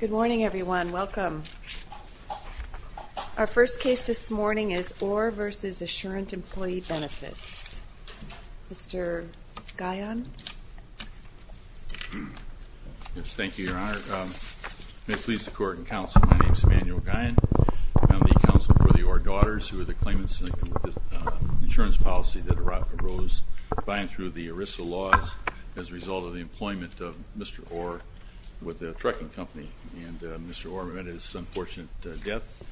Good morning, everyone. Welcome. Our first case this morning is Orr v. Assurant Employee Benefits. Mr. Guyon. Yes, thank you, Your Honor. May it please the Court and counsel, my name is Emanuel Guyon. I'm the counsel for the Orr daughters who are the claimants in the insurance policy that arose by and through the ERISA laws as a result of the employment of Mr. Orr with a trucking company. And Mr. Orr met his unfortunate death.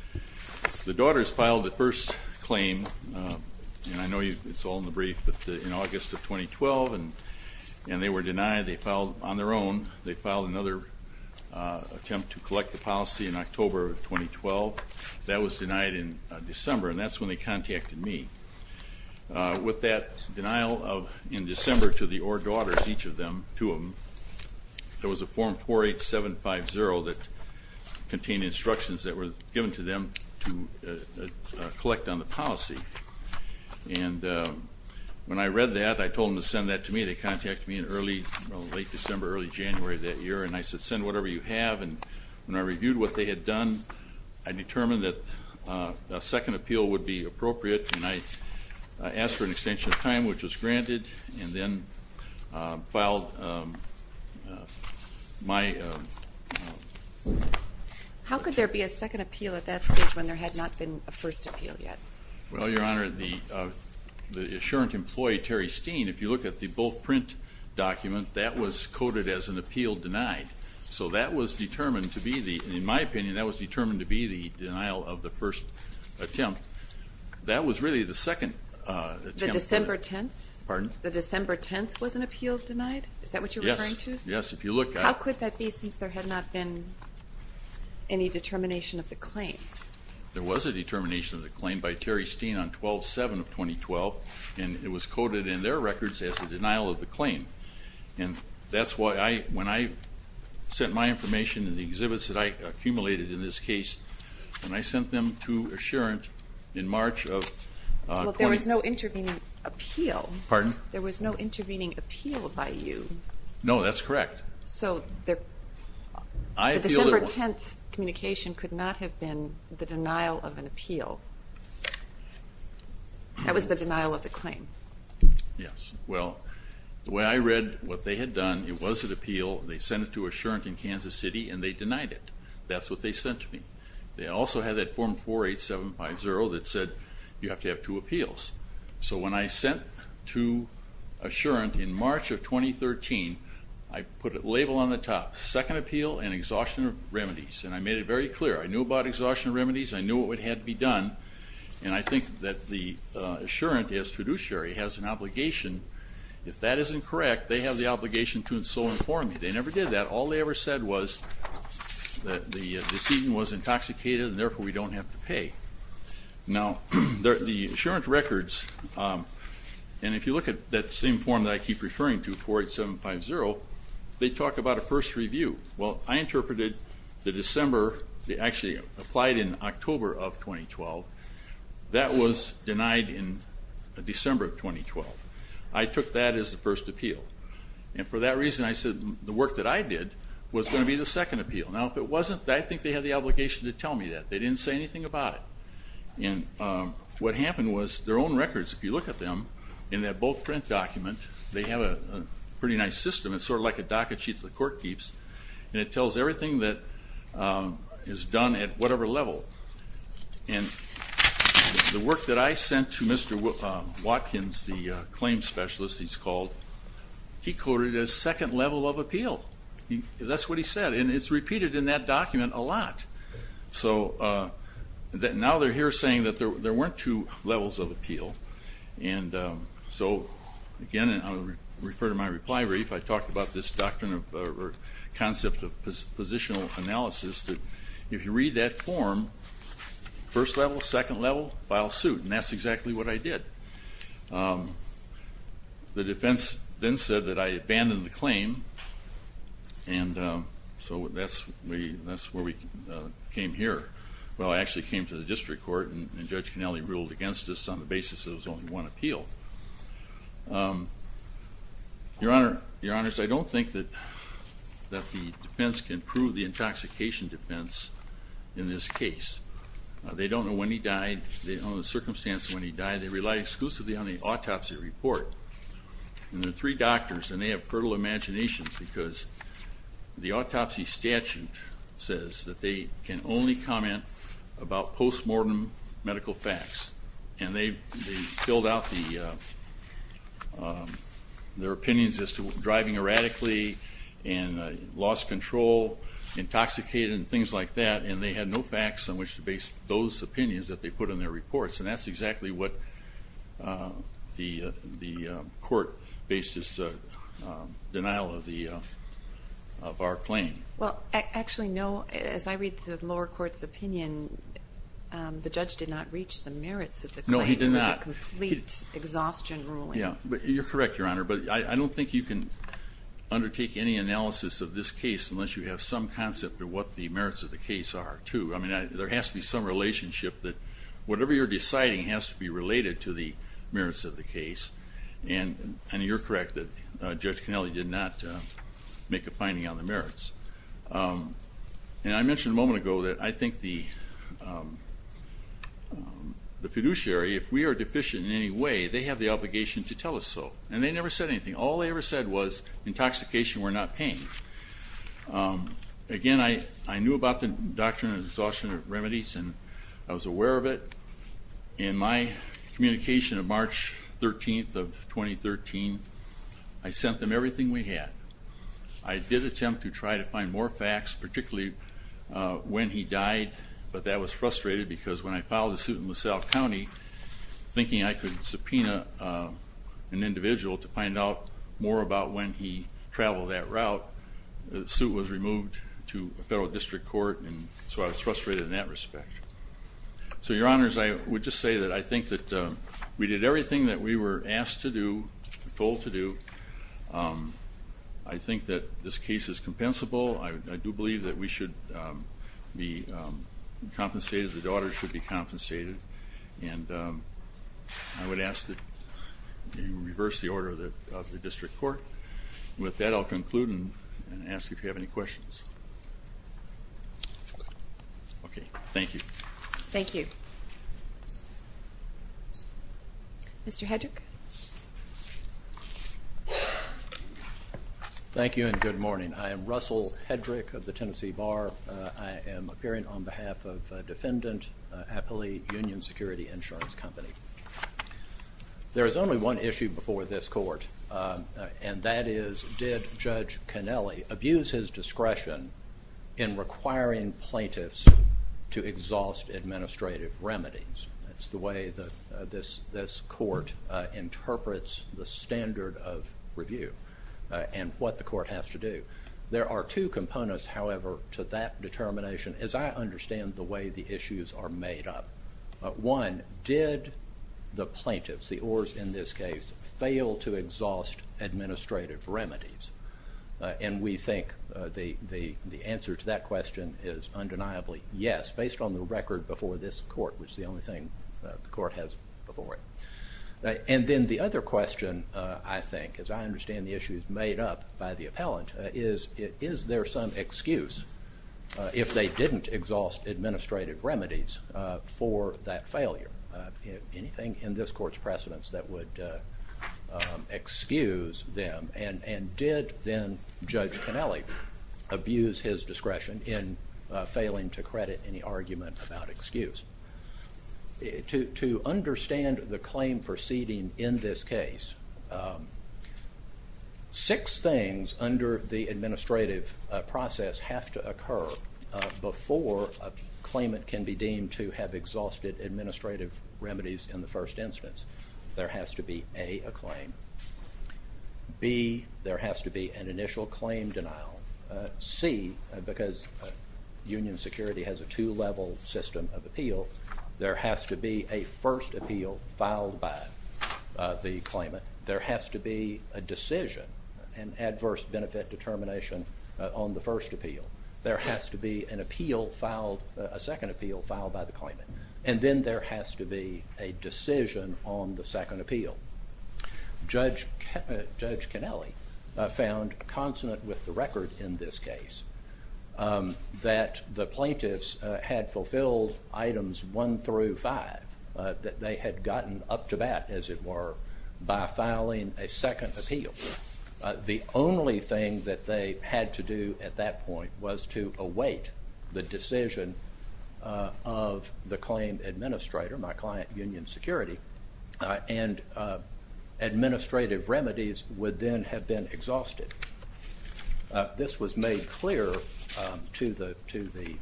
The daughters filed the first claim, and I know it's all in the brief, in August of 2012, and they were denied. They filed on their own. They filed another attempt to collect the policy in October of 2012. That was denied in December, and that's when they contacted me. With that denial in December to the Orr daughters, each of them, two of them, there was a Form 48750 that contained instructions that were given to them to collect on the policy. And when I read that, I told them to send that to me. They contacted me in early, well, late December, early January of that year, and I said, send whatever you have. And when I reviewed what they had done, I determined that a second appeal would be appropriate, and I asked for an extension of time, which was granted, and then filed my application. How could there be a second appeal at that stage when there had not been a first appeal yet? Well, Your Honor, the assurant employee, Terry Steen, if you look at the bull print document, that was coded as an appeal denied. So that was determined to be the, in my opinion, that was determined to be the denial of the first attempt. That was really the second attempt. The December 10th? Pardon? The December 10th was an appeal denied? Is that what you're referring to? Yes, if you look at it. How could that be since there had not been any determination of the claim? There was a determination of the claim by Terry Steen on 12-7 of 2012, and it was coded in their records as a denial of the claim. And that's why when I sent my information and the exhibits that I accumulated in this case, when I sent them to assurant in March of 2012. But there was no intervening appeal. Pardon? There was no intervening appeal by you. No, that's correct. So the December 10th communication could not have been the denial of an appeal. That was the denial of the claim. Yes. Well, the way I read what they had done, it was an appeal. They sent it to assurant in Kansas City, and they denied it. That's what they sent to me. They also had that Form 48750 that said you have to have two appeals. So when I sent to assurant in March of 2013, I put a label on the top, Second Appeal and Exhaustion Remedies, and I made it very clear. I knew about exhaustion remedies. I knew what had to be done. And I think that the assurant, as fiduciary, has an obligation. If that isn't correct, they have the obligation to inform me. They never did that. All they ever said was that the decedent was intoxicated, and therefore we don't have to pay. Now, the assurant records, and if you look at that same form that I keep referring to, 48750, they talk about a first review. Well, I interpreted the December, they actually applied in October of 2012. That was denied in December of 2012. I took that as the first appeal. And for that reason, I said the work that I did was going to be the second appeal. Now, if it wasn't, I think they had the obligation to tell me that. They didn't say anything about it. And what happened was their own records, if you look at them, in that bold print document, they have a pretty nice system. It's sort of like a docket sheet that the court keeps, and it tells everything that is done at whatever level. And the work that I sent to Mr. Watkins, the claim specialist he's called, he quoted it as second level of appeal. That's what he said. And it's repeated in that document a lot. So now they're here saying that there weren't two levels of appeal. And so, again, I'll refer to my reply brief. I talked about this concept of positional analysis, that if you read that form, first level, second level, file suit. And that's exactly what I did. The defense then said that I abandoned the claim, and so that's where we came here. Well, I actually came to the district court, and Judge Cannelli ruled against us on the basis that it was only one appeal. Your Honor, I don't think that the defense can prove the intoxication defense in this case. They don't know when he died. They don't know the circumstance of when he died. They rely exclusively on the autopsy report. And there are three doctors, and they have fertile imaginations because the autopsy statute says that they can only comment about postmortem medical facts. And they filled out their opinions as to driving erratically, and lost control, intoxicated, and things like that. And they had no facts on which to base those opinions that they put in their reports. And that's exactly what the court based its denial of our claim. Well, actually, no. As I read the lower court's opinion, the judge did not reach the merits of the claim. No, he did not. It was a complete exhaustion ruling. Yeah. You're correct, Your Honor. But I don't think you can undertake any analysis of this case unless you have some concept of what the merits of the case are, too. I mean, there has to be some relationship that whatever you're deciding has to be related to the merits of the case. And you're correct that Judge Connelly did not make a finding on the merits. And I mentioned a moment ago that I think the fiduciary, if we are deficient in any way, they have the obligation to tell us so. And they never said anything. All they ever said was, intoxication, we're not paying. Again, I knew about the doctrine of exhaustion of remedies, and I was aware of it. In my communication of March 13th of 2013, I sent them everything we had. I did attempt to try to find more facts, particularly when he died, but that was frustrated because when I filed a suit in LaSalle County, thinking I could subpoena an individual to find out more about when he traveled that route, the suit was removed to a federal district court, and so I was frustrated in that respect. So, Your Honors, I would just say that I think that we did everything that we were asked to do, told to do. I think that this case is compensable. I do believe that we should be compensated as the daughter should be compensated. And I would ask that you reverse the order of the district court. With that, I'll conclude and ask if you have any questions. Okay. Thank you. Thank you. Mr. Hedrick. Thank you, and good morning. I am Russell Hedrick of the Tennessee Bar. I am appearing on behalf of Defendant Apley Union Security Insurance Company. There is only one issue before this court, and that is, did Judge Cannelli abuse his discretion in requiring plaintiffs to exhaust administrative remedies? That's the way this court interprets the standard of review and what the court has to do. There are two components, however, to that determination, as I understand the way the issues are made up. One, did the plaintiffs, the oars in this case, fail to exhaust administrative remedies? And we think the answer to that question is undeniably yes, based on the record before this court, which is the only thing the court has before it. And then the other question, I think, as I understand the issues made up by the appellant, is, is there some excuse if they didn't exhaust administrative remedies for that failure? Anything in this court's precedence that would excuse them? And did, then, Judge Cannelli abuse his discretion in failing to credit any argument about excuse? To understand the claim proceeding in this case, six things under the administrative process have to occur before a claimant can be deemed to have exhausted administrative remedies in the first instance. There has to be, A, a claim. B, there has to be an initial claim denial. C, because union security has a two-level system of appeal, there has to be a first appeal filed by the claimant. There has to be a decision, an adverse benefit determination on the first appeal. There has to be an appeal filed, a second appeal filed by the claimant. And then there has to be a decision on the second appeal. Judge Cannelli found consonant with the record in this case that the plaintiffs had fulfilled items one through five, that they had gotten up to bat, as it were, by filing a second appeal. The only thing that they had to do at that point was to await the decision of the claim administrator, my client union security, and administrative remedies would then have been exhausted. This was made clear to the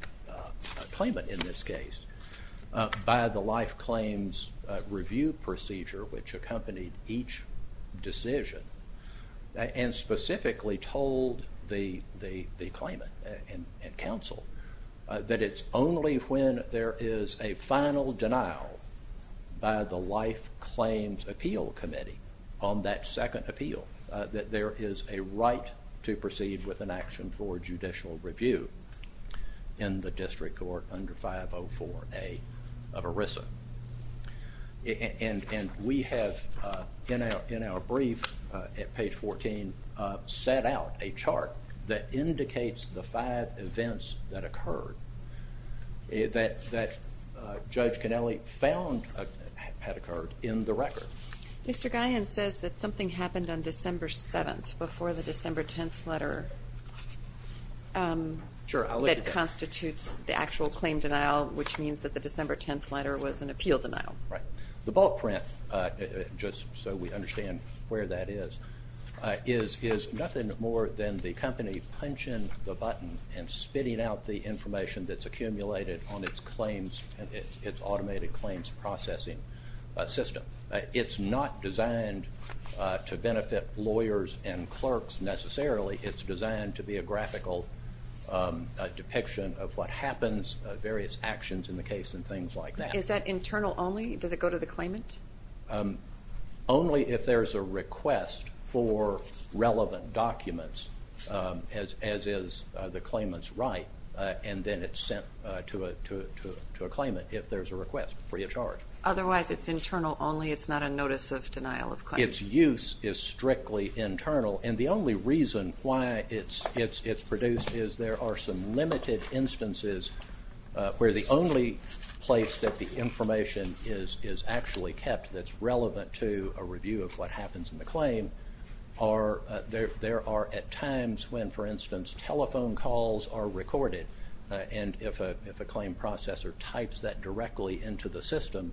claimant in this case by the life claims review procedure, which accompanied each decision, and specifically told the claimant and counsel that it's only when there is a final denial by the life claims appeal committee on that second appeal that there is a right to proceed with an action for judicial review in the district court under 504A of ERISA. And we have, in our brief at page 14, set out a chart that indicates the five events that occurred, that Judge Cannelli found had occurred in the record. Mr. Guyon says that something happened on December 7th before the December 10th letter that constitutes the actual claim denial, which means that the December 10th letter was an appeal denial. The bulk print, just so we understand where that is, is nothing more than the company punching the button and spitting out the information that's accumulated on its automated claims processing system. It's not designed to benefit lawyers and clerks necessarily. It's designed to be a graphical depiction of what happens, various actions in the case, and things like that. Is that internal only? Does it go to the claimant? Only if there's a request for relevant documents, as is the claimant's right, and then it's sent to a claimant if there's a request, free of charge. Otherwise, it's internal only? It's not a notice of denial of claim? Its use is strictly internal, and the only reason why it's produced is there are some limited instances where the only place that the information is actually kept that's relevant to a review of what happens in the claim, there are at times when, for instance, telephone calls are recorded, and if a claim processor types that directly into the system,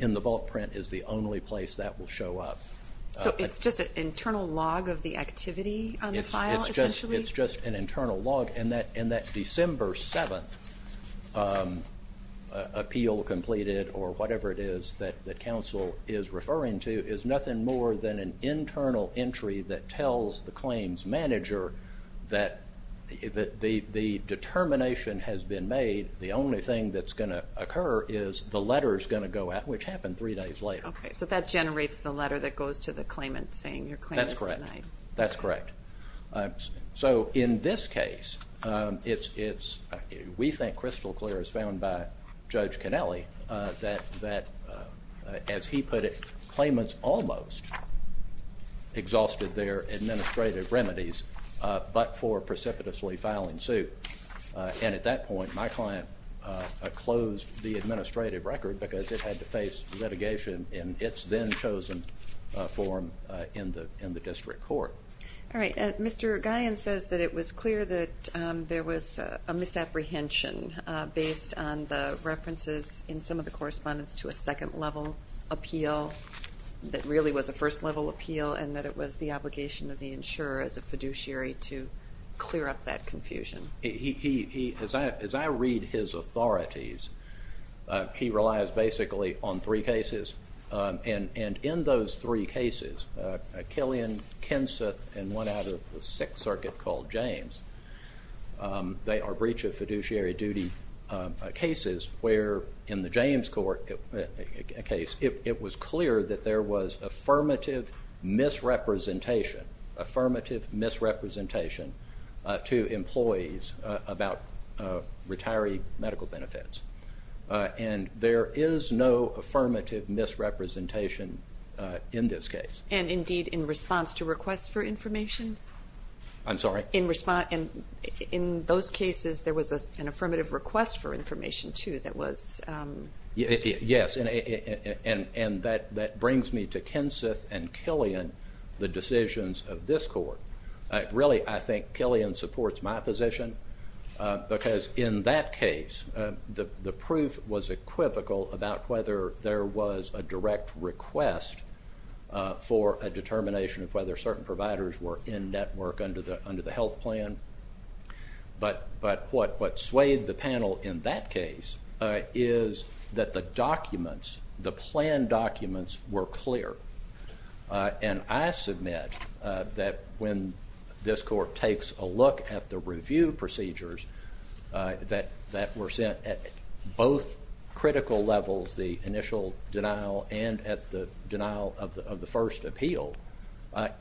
in the bulk print is the only place that will show up. So it's just an internal log of the activity on the file, essentially? It's just an internal log, and that December 7th appeal completed, or whatever it is that counsel is referring to, is nothing more than an internal entry that tells the claims manager that the determination has been made, the only thing that's going to occur is the letter's going to go out, which happened three days later. Okay, so that generates the letter that goes to the claimant saying your claim is denied? That's correct. So in this case, we think crystal clear, as found by Judge Connelly, that, as he put it, claimants almost exhausted their administrative remedies but for precipitously filing suit, and at that point my client closed the administrative record because it had to face litigation in its then-chosen form in the district court. All right. Mr. Guyon says that it was clear that there was a misapprehension based on the references in some of the correspondence to a second-level appeal that really was a first-level appeal and that it was the obligation of the insurer as a fiduciary to clear up that confusion. As I read his authorities, he relies basically on three cases, and in those three cases, Killian, Kenseth, and one out of the Sixth Circuit called James, they are breach of fiduciary duty cases where, in the James case, it was clear that there was affirmative misrepresentation to employees about retiree medical benefits, and there is no affirmative misrepresentation in this case. And, indeed, in response to requests for information? I'm sorry? In those cases, there was an affirmative request for information, too, that was? Yes, and that brings me to Kenseth and Killian, the decisions of this court. Really, I think Killian supports my position because, in that case, the proof was equivocal about whether there was a direct request for a determination of whether certain providers were in-network under the health plan. But what swayed the panel in that case is that the documents, the plan documents, were clear. And I submit that when this court takes a look at the review procedures that were sent at both critical levels, the initial denial and at the denial of the first appeal,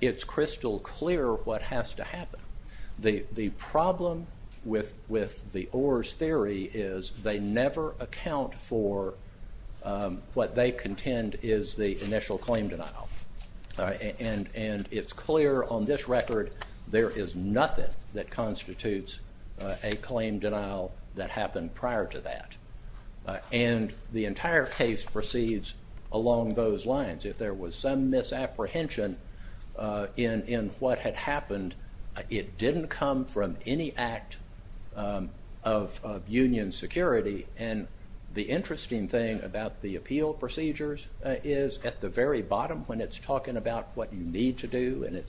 it's crystal clear what has to happen. The problem with the Orr's theory is they never account for what they contend is the initial claim denial. And it's clear on this record there is nothing that constitutes a claim denial that happened prior to that. And the entire case proceeds along those lines. If there was some misapprehension in what had happened, it didn't come from any act of union security. And the interesting thing about the appeal procedures is, at the very bottom, when it's talking about what you need to do, and you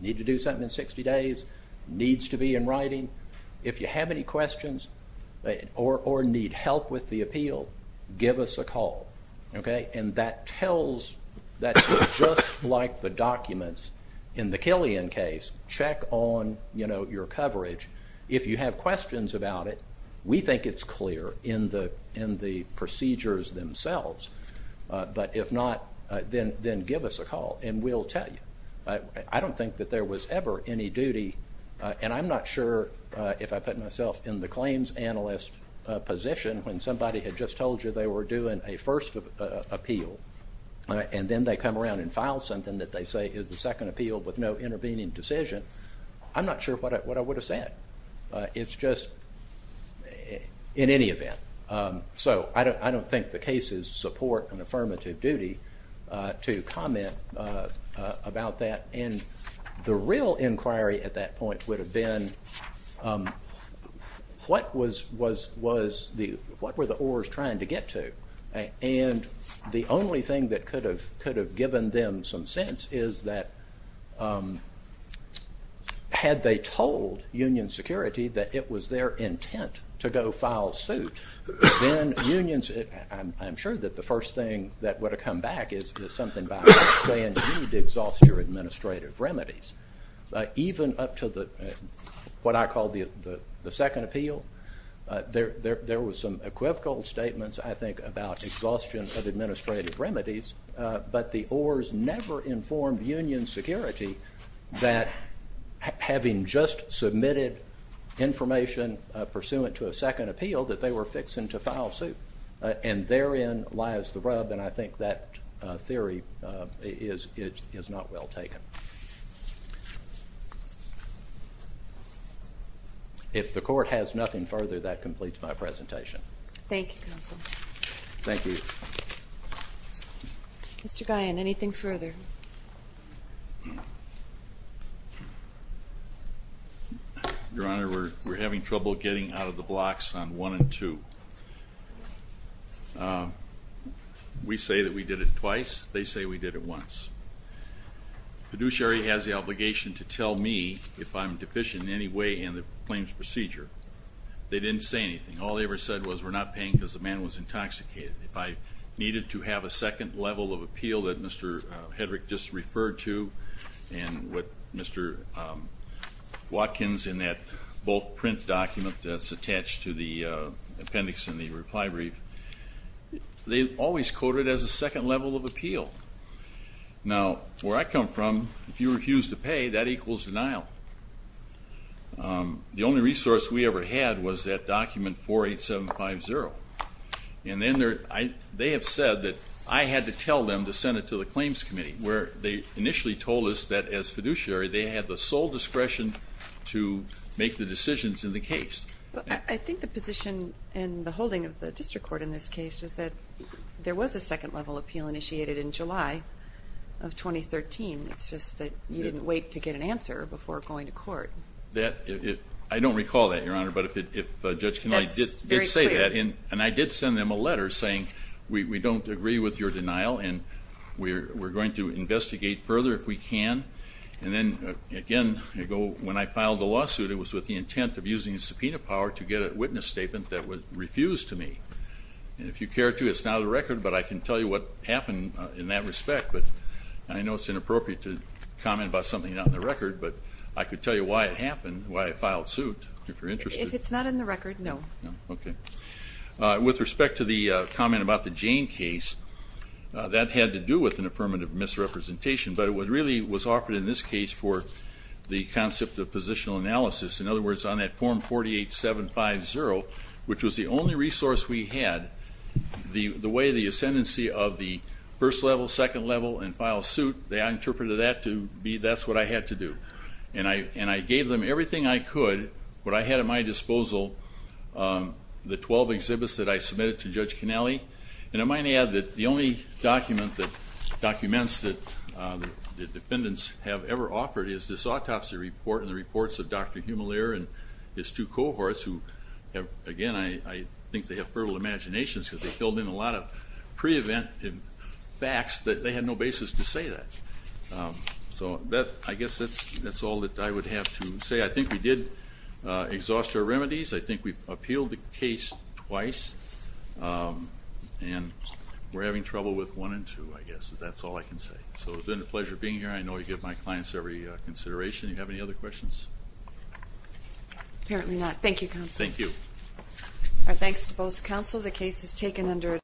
need to do something in 60 days, needs to be in writing, if you have any questions or need help with the appeal, give us a call. And that tells, just like the documents in the Killian case, check on your coverage. If you have questions about it, we think it's clear in the procedures themselves. But if not, then give us a call and we'll tell you. I don't think that there was ever any duty, and I'm not sure if I put myself in the claims analyst position when somebody had just told you they were doing a first appeal, and then they come around and file something that they say is the second appeal with no intervening decision, I'm not sure what I would have said. It's just in any event. So I don't think the cases support an affirmative duty to comment about that. And the real inquiry at that point would have been, what were the ORs trying to get to? And the only thing that could have given them some sense is that, had they told Union Security that it was their intent to go file suit, then unions, I'm sure that the first thing that would have come back is something about this plan did exhaust your administrative remedies, even up to what I call the second appeal. There were some equivocal statements, I think, about exhaustion of administrative remedies, but the ORs never informed Union Security that, having just submitted information pursuant to a second appeal, that they were fixing to file suit. And therein lies the rub, and I think that theory is not well taken. If the Court has nothing further, that completes my presentation. Thank you, Counsel. Thank you. Mr. Guyon, anything further? Your Honor, we're having trouble getting out of the blocks on 1 and 2. We say that we did it twice. They say we did it once. The fiduciary has the obligation to tell me if I'm deficient in any way in the claims procedure. They didn't say anything. All they ever said was, we're not paying because the man was intoxicated. If I needed to have a second level of appeal that Mr. Hedrick just referred to, and what Mr. Watkins in that bulk print document that's attached to the appendix in the reply brief, they always quote it as a second level of appeal. Now, where I come from, if you refuse to pay, that equals denial. The only resource we ever had was that document 48750. And then they have said that I had to tell them to send it to the claims committee, where they initially told us that as fiduciary they had the sole discretion to make the decisions in the case. I think the position and the holding of the district court in this case is that there was a second level appeal initiated in July of 2013. It's just that you didn't wait to get an answer before going to court. I don't recall that, Your Honor. But if Judge Kennelly did say that, and I did send them a letter saying we don't agree with your denial and we're going to investigate further if we can. And then, again, when I filed the lawsuit, it was with the intent of using subpoena power to get a witness statement that would refuse to me. And if you care to, it's not on the record, but I can tell you what happened in that respect. But I know it's inappropriate to comment about something not on the record, but I can tell you why it happened, why I filed suit, if you're interested. If it's not in the record, no. Okay. With respect to the comment about the Jane case, that had to do with an affirmative misrepresentation, but it really was offered in this case for the concept of positional analysis. In other words, on that form 48-750, which was the only resource we had, the way the ascendancy of the first level, second level, and file suit, they interpreted that to be that's what I had to do. And I gave them everything I could, what I had at my disposal, the 12 exhibits that I submitted to Judge Connelly. And I might add that the only document that documents that the defendants have ever offered is this autopsy report and the reports of Dr. Hummelier and his two cohorts who, again, I think they have fertile imaginations because they filled in a lot of pre-event facts that they had no basis to say that. So I guess that's all that I would have to say. I think we did exhaust our remedies. I think we appealed the case twice. And we're having trouble with one and two, I guess. That's all I can say. So it's been a pleasure being here. I know I give my clients every consideration. Do you have any other questions? Apparently not. Thank you, Counsel. Thank you. Our thanks to both counsel. The case is taken under adjournment.